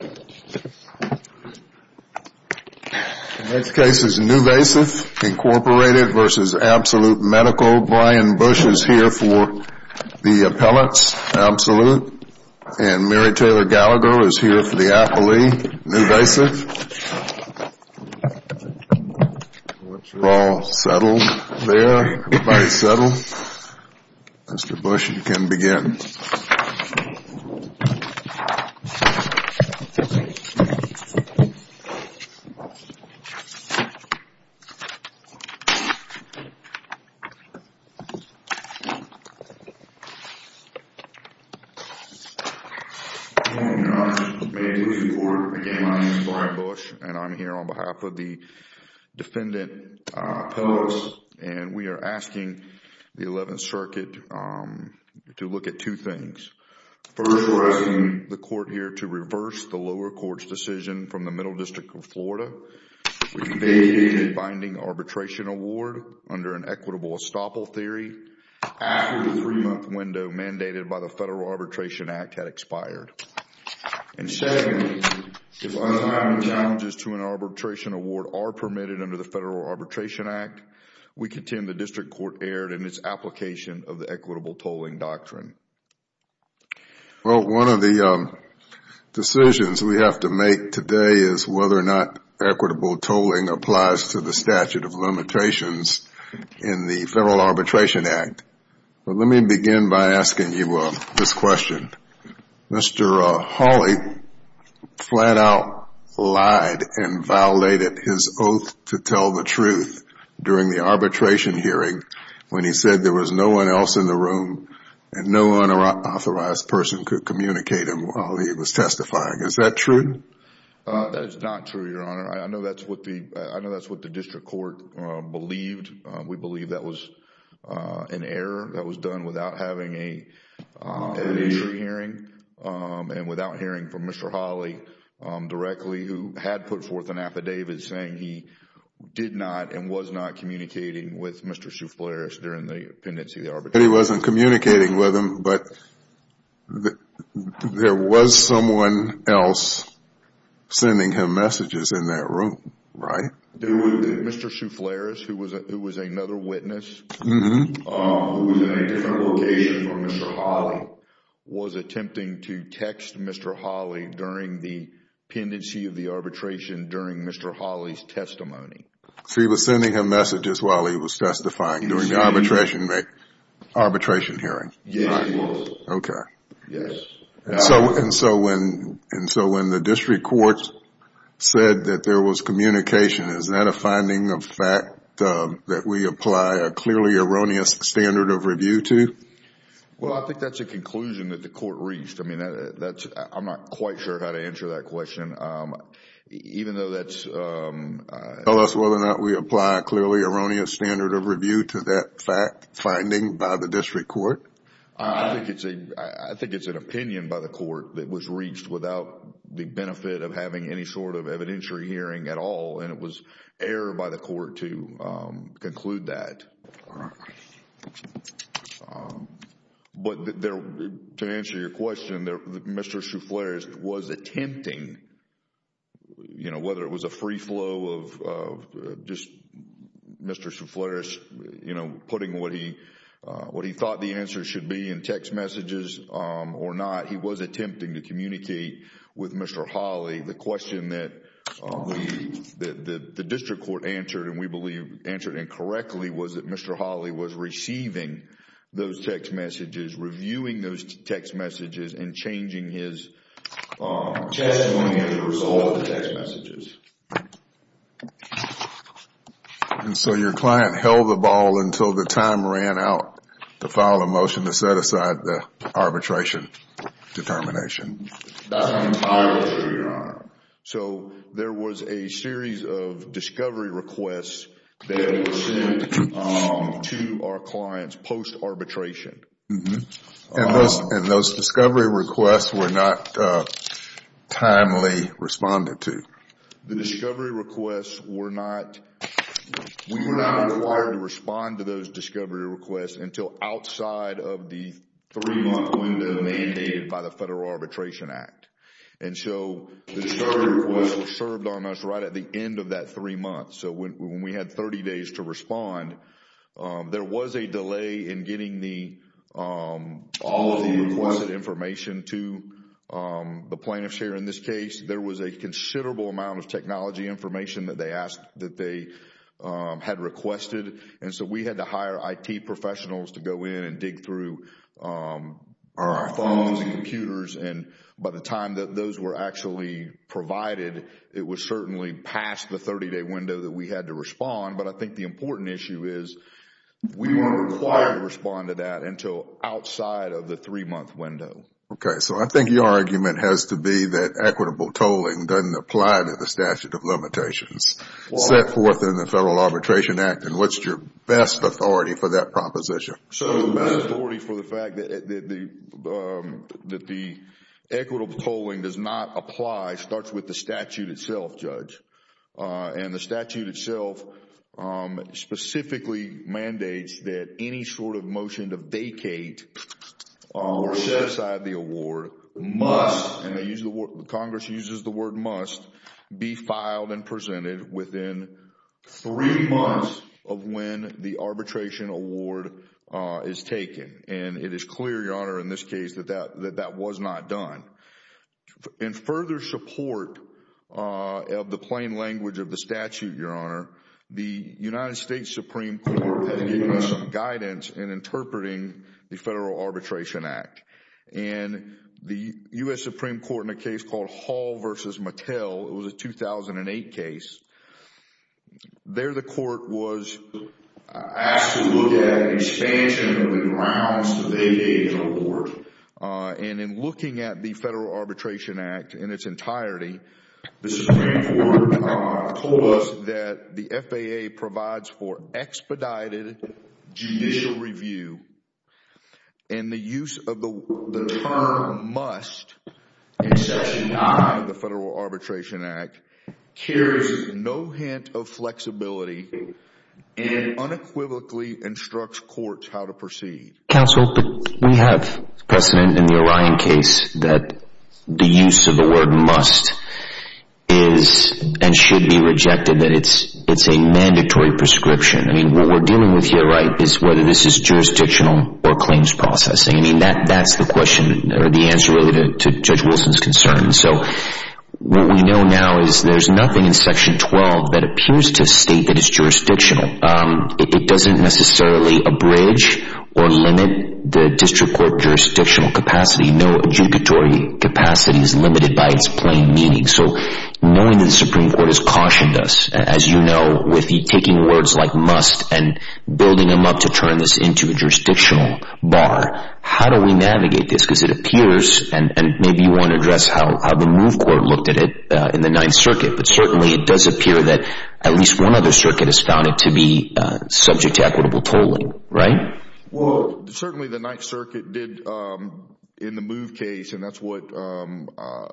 The next case is Nuvasiv, Inc. v. Absolute Medical. Brian Bush is here for the appellates, Absolute. And Mary Taylor Gallagher is here for the appellee, Nuvasiv. We're all settled there? Everybody settled? Mr. Bush, you can begin. Thank you. Good morning, Your Honor. I'm with the Maintenance Court. Again, my name is Brian Bush. And I'm here on behalf of the defendant appellates. And we are asking the Eleventh Circuit to look at two things. First, we're asking the court here to reverse the lower court's decision from the Middle District of Florida, which vacated the binding arbitration award under an equitable estoppel theory, after the three-month window mandated by the Federal Arbitration Act had expired. And second, if untimely challenges to an arbitration award are permitted under the Federal Arbitration Act, we contend the district court erred in its application of the equitable tolling doctrine. Well, one of the decisions we have to make today is whether or not equitable tolling applies to the statute of limitations in the Federal Arbitration Act. Let me begin by asking you this question. Mr. Hawley flat out lied and violated his oath to tell the truth during the arbitration hearing when he said there was no one else in the room and no unauthorized person could communicate him while he was testifying. Is that true? That is not true, Your Honor. I know that's what the district court believed. We believe that was an error that was done without having an entry hearing and without hearing from Mr. Hawley directly who had put forth an affidavit saying he did not and was not communicating with Mr. Souffleris during the pendency of the arbitration hearing. He wasn't communicating with him, but there was someone else sending him messages in that room, right? Mr. Souffleris, who was another witness who was in a different location from Mr. Hawley, was attempting to text Mr. Hawley during the pendency of the arbitration during Mr. Hawley's testimony. So he was sending him messages while he was testifying during the arbitration hearing? Yes, he was. Okay. Yes. And so when the district court said that there was communication, is that a finding of fact that we apply a clearly erroneous standard of review to? Well, I think that's a conclusion that the court reached. I mean, I'm not quite sure how to answer that question. Even though that's… Tell us whether or not we apply a clearly erroneous standard of review to that finding by the district court. I think it's an opinion by the court that was reached without the benefit of having any sort of evidentiary hearing at all, and it was error by the court to conclude that. But to answer your question, Mr. Souffleris was attempting, whether it was a free flow of Mr. Souffleris putting what he thought the answer should be in text messages or not, he was attempting to communicate with Mr. Hawley. The question that the district court answered, and we believe answered incorrectly, was that Mr. Hawley was receiving those text messages, reviewing those text messages, and changing his testimony as a result of the text messages. And so your client held the ball until the time ran out to file a motion to set aside the arbitration determination. That's an entire issue, Your Honor. So there was a series of discovery requests that were sent to our clients post-arbitration. And those discovery requests were not timely responded to. The discovery requests were not required to respond to those discovery requests until outside of the three-month window mandated by the Federal Arbitration Act. And so the discovery requests were served on us right at the end of that three months. So when we had 30 days to respond, there was a delay in getting all of the requested information to the plaintiffs here. In this case, there was a considerable amount of technology information that they had requested. And so we had to hire IT professionals to go in and dig through our phones and computers. And by the time that those were actually provided, it was certainly past the 30-day window that we had to respond. But I think the important issue is we weren't required to respond to that until outside of the three-month window. Okay, so I think your argument has to be that equitable tolling doesn't apply to the statute of limitations set forth in the Federal Arbitration Act. And what's your best authority for that proposition? So the best authority for the fact that the equitable tolling does not apply starts with the statute itself, Judge. And the statute itself specifically mandates that any sort of motion to vacate or set aside the award must, and Congress uses the word must, be filed and presented within three months of when the arbitration award is taken. And it is clear, Your Honor, in this case that that was not done. In further support of the plain language of the statute, Your Honor, the United States Supreme Court had to give us some guidance in interpreting the Federal Arbitration Act. And the U.S. Supreme Court in a case called Hall v. Mattel, it was a 2008 case, there the court was asked to look at an expansion of the grounds that they gave the award. And in looking at the Federal Arbitration Act in its entirety, the Supreme Court told us that the FAA provides for expedited judicial review and the use of the term must in section 9 of the Federal Arbitration Act carries no hint of flexibility and unequivocally instructs courts how to proceed. Counsel, we have precedent in the Orion case that the use of the word must is and should be rejected, that it's a mandatory prescription. I mean, what we're dealing with here, right, is whether this is jurisdictional or claims processing. I mean, that's the question or the answer really to Judge Wilson's concern. So what we know now is there's nothing in section 12 that appears to state that it's jurisdictional. It doesn't necessarily abridge or limit the district court jurisdictional capacity. No adjugatory capacity is limited by its plain meaning. So knowing that the Supreme Court has cautioned us, as you know, with the taking words like must and building them up to turn this into a jurisdictional bar, how do we navigate this? Because it appears, and maybe you want to address how the MOVE Court looked at it in the Ninth Circuit, but certainly it does appear that at least one other circuit has found it to be subject to equitable tolling, right? Well, certainly the Ninth Circuit did in the MOVE case, and that's what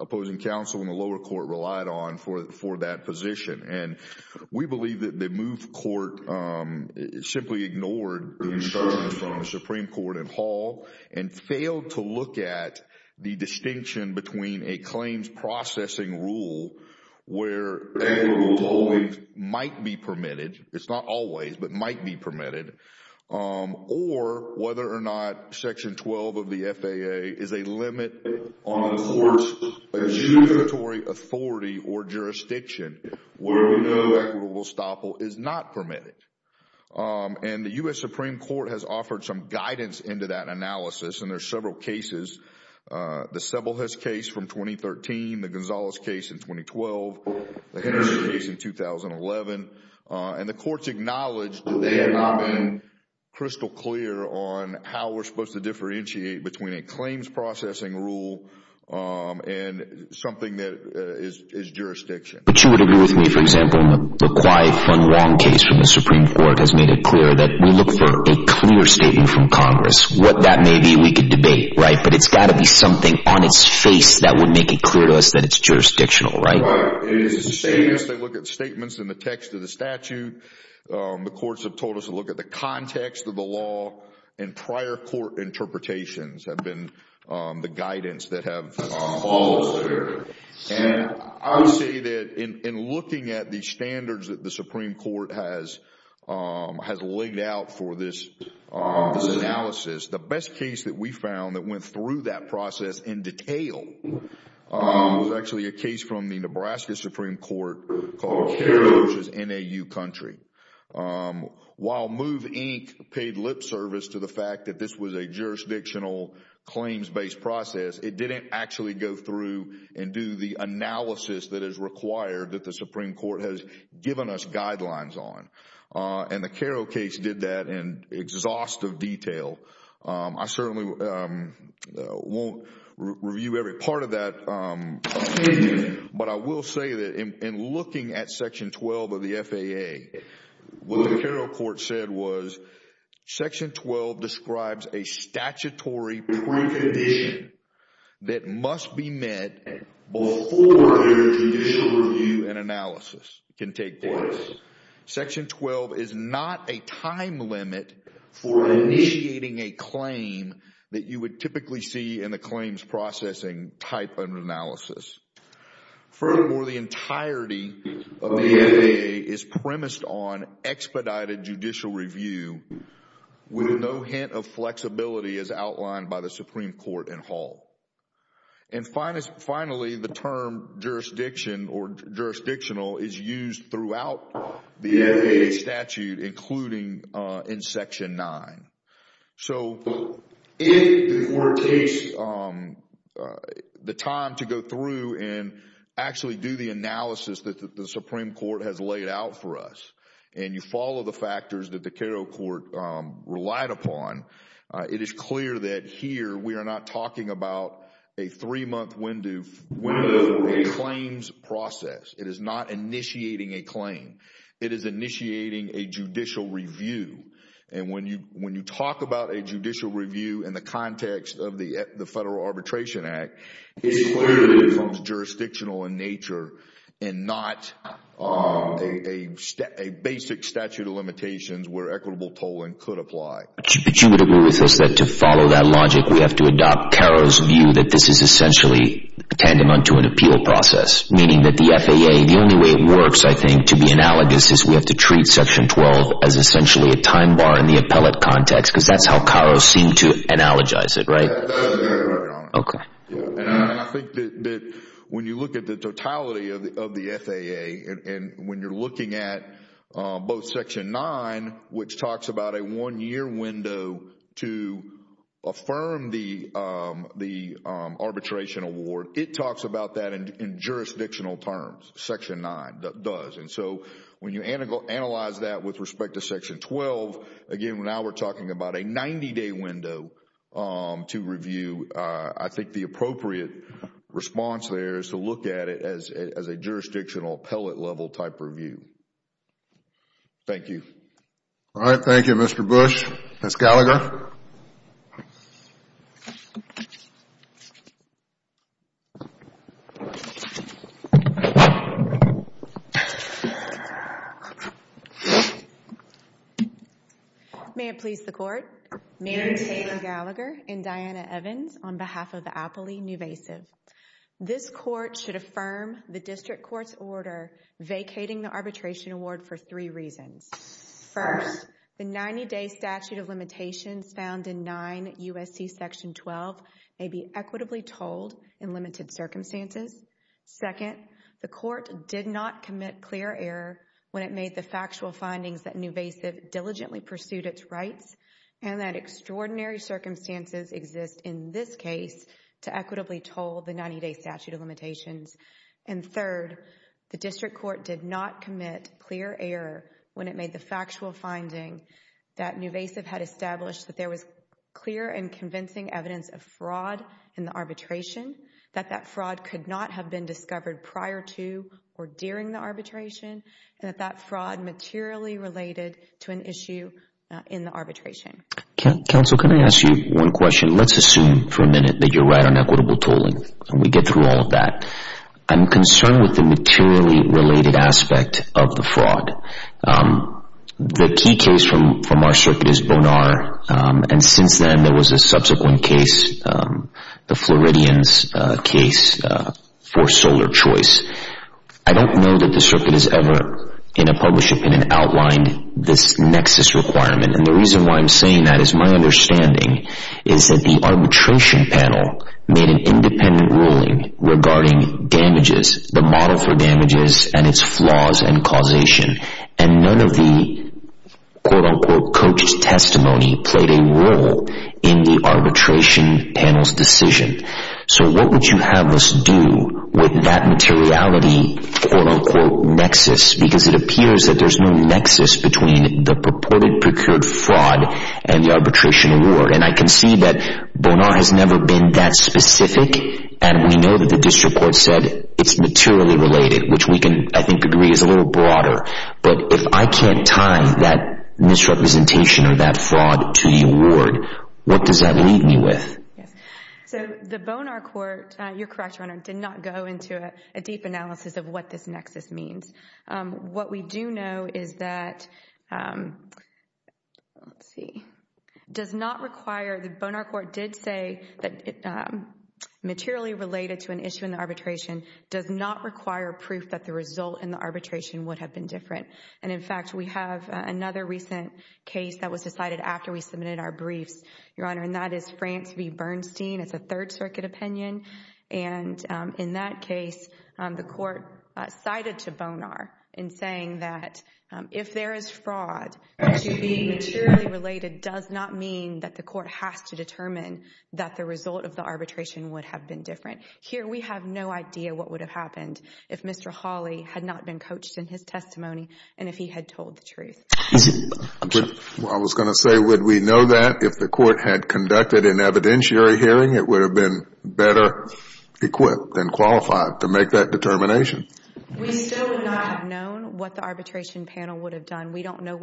opposing counsel in the lower court relied on for that position. And we believe that the MOVE Court simply ignored the instructions from the Supreme Court in Hall and failed to look at the distinction between a claims processing rule where equitable tolling might be permitted. It's not always, but might be permitted. Or whether or not section 12 of the FAA is a limit on the court's adjudicatory authority or jurisdiction where we know equitable topple is not permitted. And the U.S. Supreme Court has offered some guidance into that analysis, and there are several cases. The Sebelius case from 2013, the Gonzales case in 2012, the Henderson case in 2011, and the courts acknowledged that they had not been crystal clear on how we're supposed to differentiate between a claims processing rule and something that is jurisdiction. But you would agree with me, for example, the quiet, fun, wrong case from the Supreme Court has made it clear that we look for a clear statement from Congress. What that may be, we could debate, right? But it's got to be something on its face that would make it clear to us that it's jurisdictional, right? Right. They look at statements in the text of the statute. The courts have told us to look at the context of the law. And prior court interpretations have been the guidance that have followed later. And I would say that in looking at the standards that the Supreme Court has laid out for this analysis, the best case that we found that went through that process in detail was actually a case from the Nebraska Supreme Court called Caro, which is NAU country. While Move, Inc. paid lip service to the fact that this was a jurisdictional claims-based process, it didn't actually go through and do the analysis that is required that the Supreme Court has given us guidelines on. And the Caro case did that in exhaustive detail. I certainly won't review every part of that. But I will say that in looking at Section 12 of the FAA, what the Caro court said was Section 12 describes a statutory precondition that must be met before a judicial review and analysis can take place. Section 12 is not a time limit for initiating a claim that you would typically see in the claims processing type of analysis. Furthermore, the entirety of the FAA is premised on expedited judicial review with no hint of flexibility as outlined by the Supreme Court in Hall. And finally, the term jurisdiction or jurisdictional is used throughout the FAA statute, including in Section 9. So, if the court takes the time to go through and actually do the analysis that the Supreme Court has laid out for us, and you follow the factors that the Caro court relied upon, it is clear that here we are not talking about a three-month window of a claims process. It is not initiating a claim. It is initiating a judicial review. And when you talk about a judicial review in the context of the Federal Arbitration Act, it is clear that it becomes jurisdictional in nature and not a basic statute of limitations where equitable tolling could apply. But you would agree with us that to follow that logic, we have to adopt Caro's view that this is essentially tending on to an appeal process, meaning that the FAA, the only way it works, I think, to be analogous, is we have to treat Section 12 as essentially a time bar in the appellate context because that is how Caro seemed to analogize it, right? That is very clear, Your Honor. Okay. And I think that when you look at the totality of the FAA, and when you are looking at both Section 9, which talks about a one-year window to affirm the arbitration award, it talks about that in jurisdictional terms, Section 9 does. And so when you analyze that with respect to Section 12, again, now we are talking about a 90-day window to review. I think the appropriate response there is to look at it as a jurisdictional appellate-level type review. Thank you. All right. Thank you, Mr. Bush. Ms. Gallagher? May it please the Court. Mary Taylor Gallagher and Diana Evans on behalf of the appellee, newvasive. This Court should affirm the District Court's order vacating the arbitration award for three reasons. First, the 90-day statute of limitations found in 9 U.S.C. Section 12 may be equitably told in limited circumstances. Second, the Court did not commit clear error when it made the factual findings that newvasive diligently pursued its rights and that extraordinary circumstances exist in this case to equitably told the 90-day statute of limitations. And third, the District Court did not commit clear error when it made the factual finding that newvasive had established that there was clear and convincing evidence of fraud in the arbitration, that that fraud could not have been discovered prior to or during the arbitration, and that that fraud materially related to an issue in the arbitration. Counsel, can I ask you one question? Let's assume for a minute that you're right on equitable tolling, and we get through all of that. I'm concerned with the materially related aspect of the fraud. The key case from our circuit is Bonar, and since then there was a subsequent case, the Floridians case for Solar Choice. I don't know that the circuit has ever, in a published opinion, outlined this nexus requirement. And the reason why I'm saying that is my understanding is that the arbitration panel made an independent ruling regarding damages, the model for damages and its flaws and causation, and none of the, quote-unquote, coach's testimony played a role in the arbitration panel's decision. So what would you have us do with that materiality, quote-unquote, nexus? Because it appears that there's no nexus between the purported procured fraud and the arbitration award. And I can see that Bonar has never been that specific, and we know that the district court said it's materially related, which we can, I think, agree is a little broader. But if I can't tie that misrepresentation or that fraud to the award, what does that leave me with? Yes. So the Bonar court, you're correct, Your Honor, did not go into a deep analysis of what this nexus means. What we do know is that, let's see, does not require, the Bonar court did say that materially related to an issue in the arbitration does not require proof that the result in the arbitration would have been different. And, in fact, we have another recent case that was decided after we submitted our briefs, Your Honor, and that is France v. Bernstein. It's a Third Circuit opinion. And in that case, the court cited to Bonar in saying that if there is fraud, to be materially related does not mean that the court has to determine that the result of the arbitration would have been different. Here we have no idea what would have happened if Mr. Hawley had not been coached in his testimony and if he had told the truth. I was going to say, would we know that if the court had conducted an evidentiary hearing, it would have been better equipped and qualified to make that determination? We still would not have known what the arbitration panel would have done. We don't know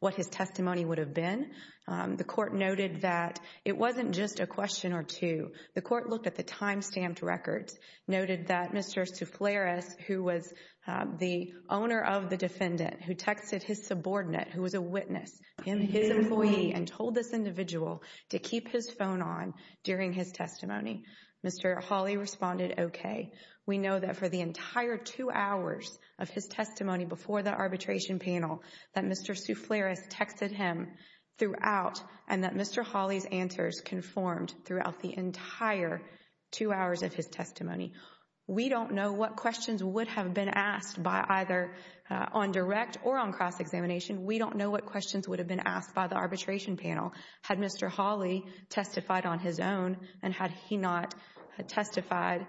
what his testimony would have been. The court noted that it wasn't just a question or two. The court looked at the time-stamped records, noted that Mr. Souffleris, who was the owner of the defendant, who texted his subordinate, who was a witness and his employee, and told this individual to keep his phone on during his testimony. Mr. Hawley responded okay. We know that for the entire two hours of his testimony before the arbitration panel that Mr. Souffleris texted him throughout and that Mr. Hawley's answers conformed throughout the entire two hours of his testimony. We don't know what questions would have been asked by either on direct or on cross-examination. We don't know what questions would have been asked by the arbitration panel had Mr. Hawley testified on his own and had he not testified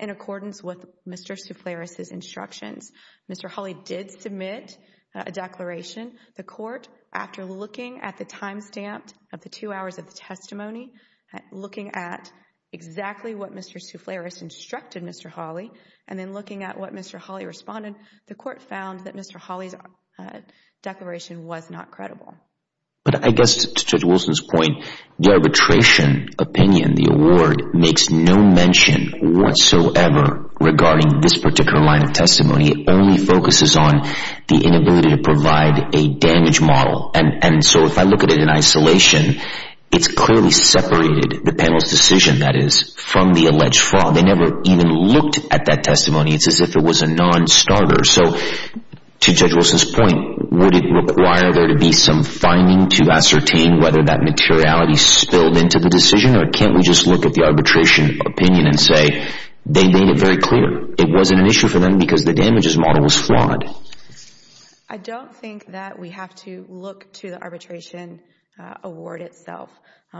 in accordance with Mr. Souffleris' instructions. Mr. Hawley did submit a declaration. The court, after looking at the time-stamped of the two hours of the testimony, looking at exactly what Mr. Souffleris instructed Mr. Hawley, and then looking at what Mr. Hawley responded, the court found that Mr. Hawley's declaration was not credible. But I guess to Judge Wilson's point, the arbitration opinion, the award, makes no mention whatsoever regarding this particular line of testimony. It only focuses on the inability to provide a damage model. And so if I look at it in isolation, it's clearly separated, the panel's decision that is, from the alleged fraud. They never even looked at that testimony. It's as if it was a non-starter. So to Judge Wilson's point, would it require there to be some finding to ascertain whether that materiality spilled into the decision or can't we just look at the arbitration opinion and say they made it very clear. It wasn't an issue for them because the damages model was flawed. I don't think that we have to look to the arbitration award itself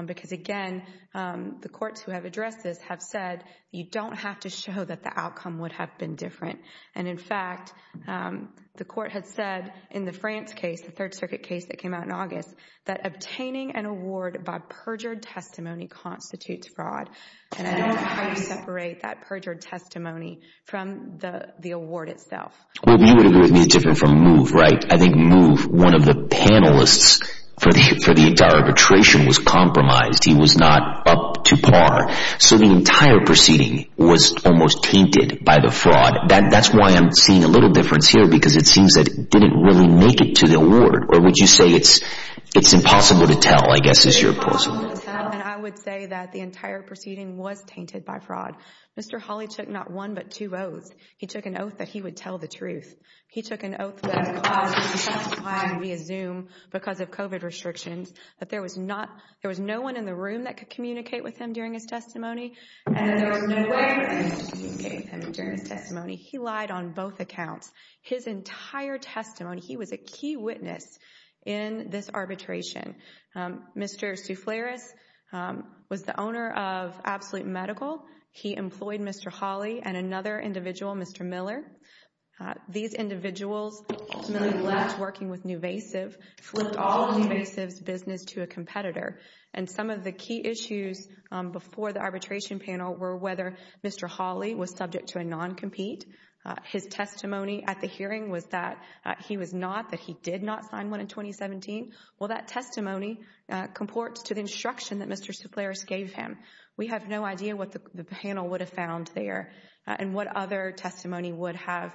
because, again, the courts who have addressed this have said you don't have to show that the outcome would have been different. And, in fact, the court had said in the France case, the Third Circuit case that came out in August, that obtaining an award by perjured testimony constitutes fraud. And I don't know how you separate that perjured testimony from the award itself. Well, you would agree with me it's different from MOVE, right? I think MOVE, one of the panelists for the entire arbitration was compromised. He was not up to par. So the entire proceeding was almost tainted by the fraud. That's why I'm seeing a little difference here because it seems that it didn't really make it to the award. Or would you say it's impossible to tell, I guess, is your proposal? It's impossible to tell, and I would say that the entire proceeding was tainted by fraud. Mr. Hawley took not one but two oaths. He took an oath that he would tell the truth. He took an oath that he would testify via Zoom because of COVID restrictions, that there was no one in the room that could communicate with him during his testimony, and there was no one in the room that could communicate with him during his testimony. He lied on both accounts. His entire testimony, he was a key witness in this arbitration. Mr. Soufleris was the owner of Absolute Medical. He employed Mr. Hawley and another individual, Mr. Miller. These individuals ultimately left working with Nuvasiv, flipped all of Nuvasiv's business to a competitor, and some of the key issues before the arbitration panel were whether Mr. Hawley was subject to a non-compete. His testimony at the hearing was that he was not, that he did not sign one in 2017. Well, that testimony comports to the instruction that Mr. Soufleris gave him. We have no idea what the panel would have found there and what other testimony would have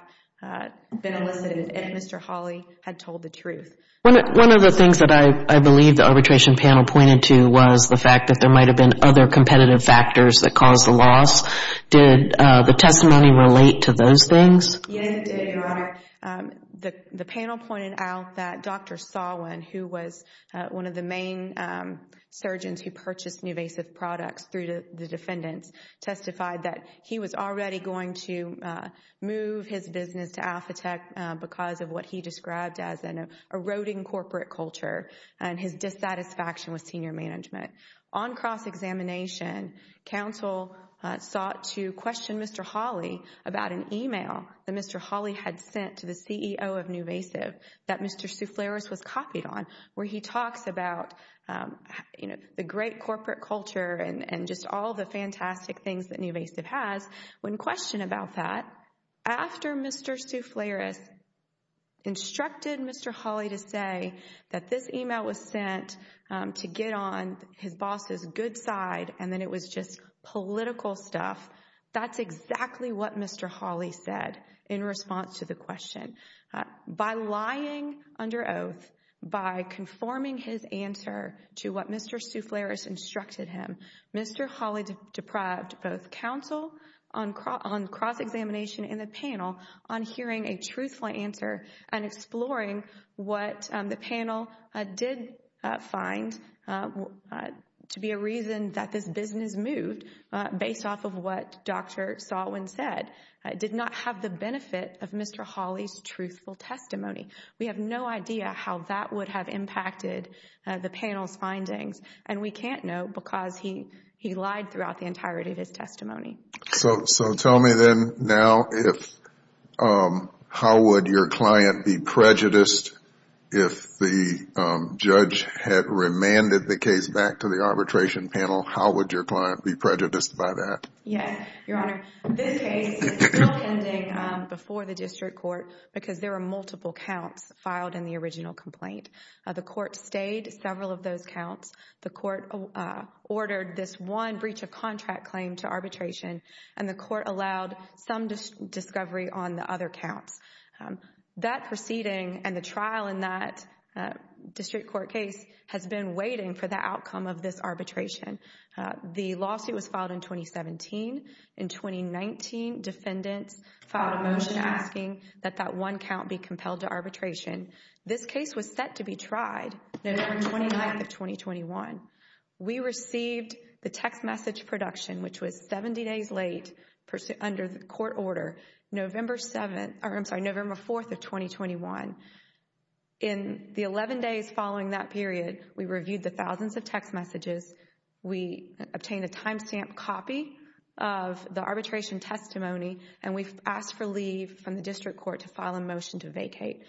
been elicited if Mr. Hawley had told the truth. One of the things that I believe the arbitration panel pointed to was the fact that there might have been other competitive factors that caused the loss. Did the testimony relate to those things? Yes, it did, Your Honor. The panel pointed out that Dr. Sawin, who was one of the main surgeons who purchased Nuvasiv products through the defendants, testified that he was already going to move his business to Alphatect because of what he described as an eroding corporate culture and his dissatisfaction with senior management. On cross-examination, counsel sought to question Mr. Hawley about an email that Mr. Hawley had sent to the CEO of Nuvasiv that Mr. Soufleris was copied on where he talks about the great corporate culture and just all the fantastic things that Nuvasiv has. When questioned about that, after Mr. Soufleris instructed Mr. Hawley to say that this email was sent to get on his boss's good side and that it was just political stuff, that's exactly what Mr. Hawley said in response to the question. By lying under oath, by conforming his answer to what Mr. Soufleris instructed him, Mr. Hawley deprived both counsel on cross-examination and the panel on hearing a truthful answer and exploring what the panel did find to be a reason that this business moved based off of what Dr. Salwin said did not have the benefit of Mr. Hawley's truthful testimony. We have no idea how that would have impacted the panel's findings, and we can't know because he lied throughout the entirety of his testimony. So tell me then now how would your client be prejudiced if the judge had remanded the case back to the arbitration panel? How would your client be prejudiced by that? Yes, Your Honor. This case is still pending before the district court because there are multiple counts filed in the original complaint. The court stayed several of those counts. The court ordered this one breach of contract claim to arbitration, and the court allowed some discovery on the other counts. That proceeding and the trial in that district court case has been waiting for the outcome of this arbitration. The lawsuit was filed in 2017. In 2019, defendants filed a motion asking that that one count be compelled to arbitration. This case was set to be tried November 29th of 2021. We received the text message production, which was 70 days late under the court order, November 4th of 2021. In the 11 days following that period, we reviewed the thousands of text messages. We obtained a timestamp copy of the arbitration testimony, and we've asked for leave from the district court to file a motion to vacate.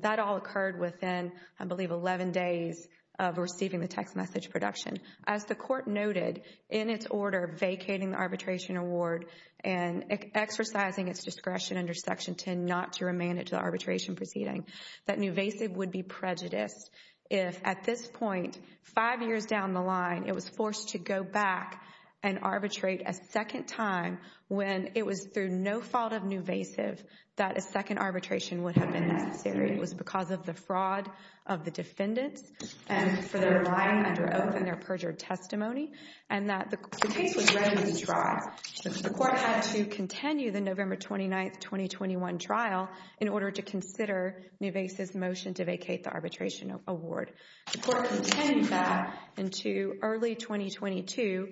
That all occurred within, I believe, 11 days of receiving the text message production. As the court noted in its order vacating the arbitration award and exercising its discretion under Section 10 not to remand it to the arbitration proceeding, that Nuvasiv would be prejudiced if at this point, five years down the line, it was forced to go back and arbitrate a second time when it was through no fault of Nuvasiv that a second arbitration would have been necessary. It was because of the fraud of the defendants and for their lying under oath and their perjured testimony and that the case was ready to be tried. The court had to continue the November 29th, 2021 trial in order to consider Nuvasiv's motion to vacate the arbitration award. The court continued that into early 2022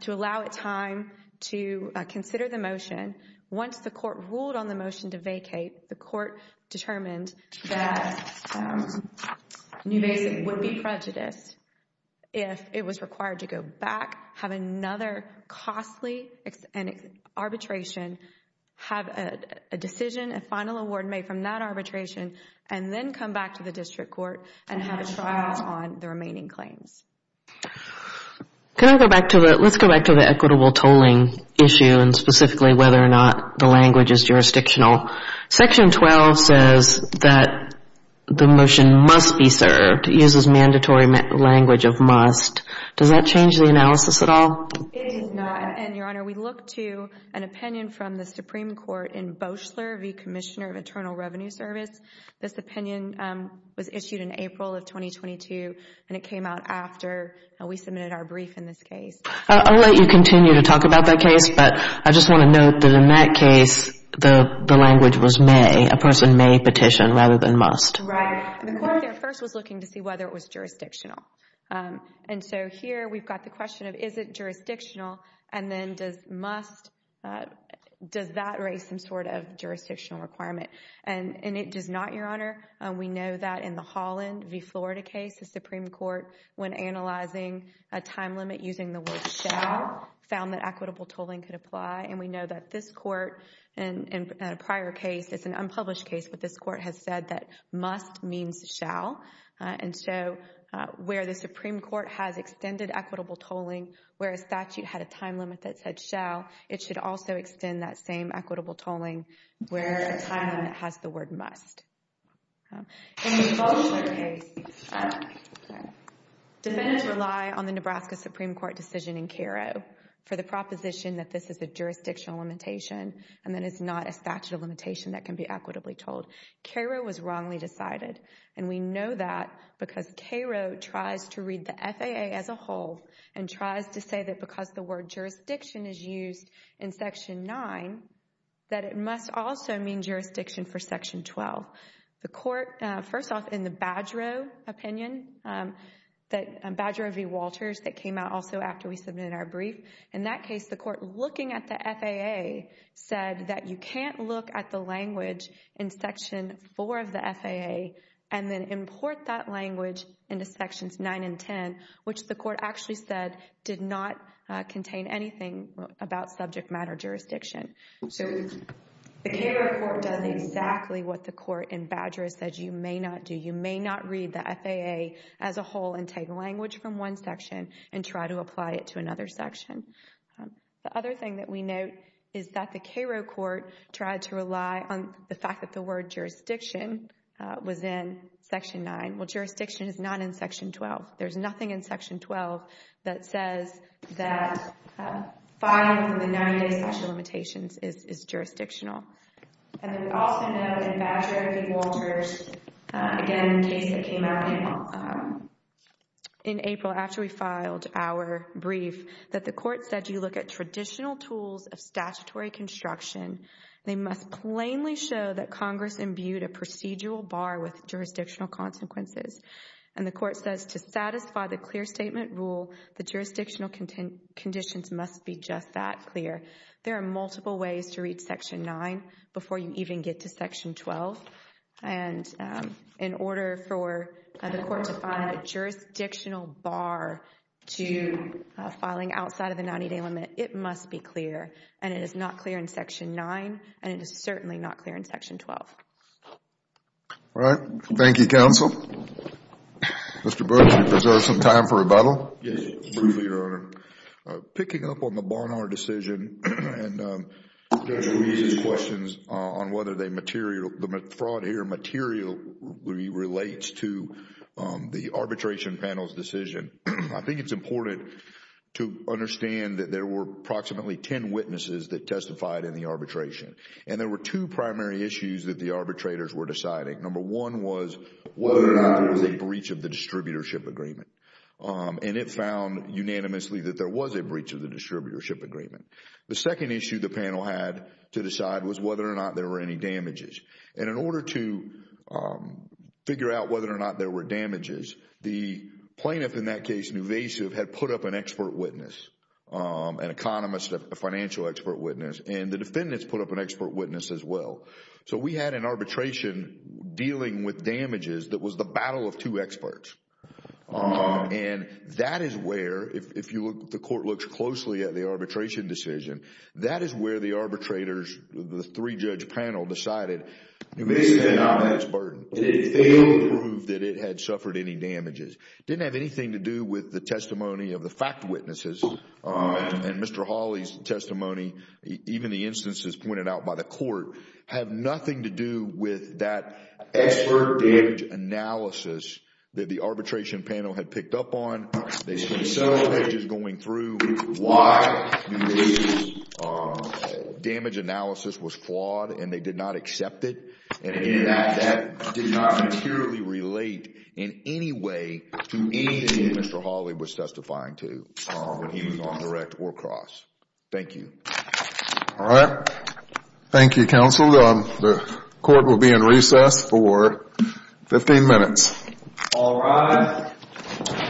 to allow it time to consider the motion. Once the court ruled on the motion to vacate, the court determined that Nuvasiv would be prejudiced if it was required to go back, have another costly arbitration, have a decision, a final award made from that arbitration and then come back to the district court and have a trial on the remaining claims. Let's go back to the equitable tolling issue and specifically whether or not the language is jurisdictional. Section 12 says that the motion must be served. It uses mandatory language of must. Does that change the analysis at all? It does not. And, Your Honor, we look to an opinion from the Supreme Court in Boeschler v. Commissioner of Internal Revenue Service. This opinion was issued in April of 2022 and it came out after we submitted our brief in this case. I'll let you continue to talk about that case, but I just want to note that in that case, the language was may. A person may petition rather than must. Right. The court there first was looking to see whether it was jurisdictional. And so here we've got the question of is it jurisdictional and then does must, does that raise some sort of jurisdictional requirement? And it does not, Your Honor. We know that in the Holland v. Florida case, the Supreme Court, when analyzing a time limit using the word shall, found that equitable tolling could apply. And we know that this court in a prior case, it's an unpublished case, but this court has said that must means shall. And so where the Supreme Court has extended equitable tolling, where a statute had a time limit that said shall, it should also extend that same equitable tolling where a time limit has the word must. In the Boeschler case, defendants rely on the Nebraska Supreme Court decision in Cairo for the proposition that this is a jurisdictional limitation and that it's not a statute of limitation that can be equitably tolled. Cairo was wrongly decided. And we know that because Cairo tries to read the FAA as a whole and tries to say that because the word jurisdiction is used in Section 9, that it must also mean jurisdiction for Section 12. The court, first off, in the Badgerow opinion, Badgerow v. Walters that came out also after we submitted our brief, in that case the court, looking at the FAA, said that you can't look at the language in Section 4 of the FAA and then import that language into Sections 9 and 10, which the court actually said did not contain anything about subject matter jurisdiction. So the Cairo court does exactly what the court in Badgerow said you may not do. You may not read the FAA as a whole and take language from one section and try to apply it to another section. The other thing that we note is that the Cairo court tried to rely on the fact that the word jurisdiction was in Section 9. Well, jurisdiction is not in Section 12. There's nothing in Section 12 that says that filing from the 90-day statute of limitations is jurisdictional. And then we also note in Badgerow v. Walters, again the case that came out in April after we filed our brief, that the court said you look at traditional tools of statutory construction. They must plainly show that Congress imbued a procedural bar with jurisdictional consequences. And the court says to satisfy the clear statement rule, the jurisdictional conditions must be just that clear. There are multiple ways to read Section 9 before you even get to Section 12. And in order for the court to find a jurisdictional bar to filing outside of the 90-day limit, it must be clear. And it is not clear in Section 9, and it is certainly not clear in Section 12. All right. Thank you, counsel. Mr. Book, do you have some time for rebuttal? Yes, Mr. Booth, Your Honor. Picking up on the Barnard decision and Judge Ruiz's questions on whether the fraud here materially relates to the arbitration panel's decision, I think it's important to understand that there were approximately ten witnesses that testified in the arbitration. And there were two primary issues that the arbitrators were deciding. Number one was whether or not there was a breach of the distributorship agreement. And it found unanimously that there was a breach of the distributorship agreement. The second issue the panel had to decide was whether or not there were any damages. And in order to figure out whether or not there were damages, the plaintiff in that case, Nuvasiv, had put up an expert witness, an economist, a financial expert witness, and the defendants put up an expert witness as well. So we had an arbitration dealing with damages that was the battle of two experts. And that is where, if the court looks closely at the arbitration decision, that is where the arbitrators, the three-judge panel decided, Nuvasiv is not an expert. It failed to prove that it had suffered any damages. It didn't have anything to do with the testimony of the fact witnesses and Mr. Hawley's testimony. Even the instances pointed out by the court have nothing to do with that expert damage analysis that the arbitration panel had picked up on. They spent several pages going through why Nuvasiv's damage analysis was flawed, and they did not accept it. And again, that did not materially relate in any way to anything Mr. Hawley was testifying to when he was on direct or cross. Thank you. All right. Thank you, counsel. The court will be in recess for 15 minutes. All rise. Thank you. Thank you.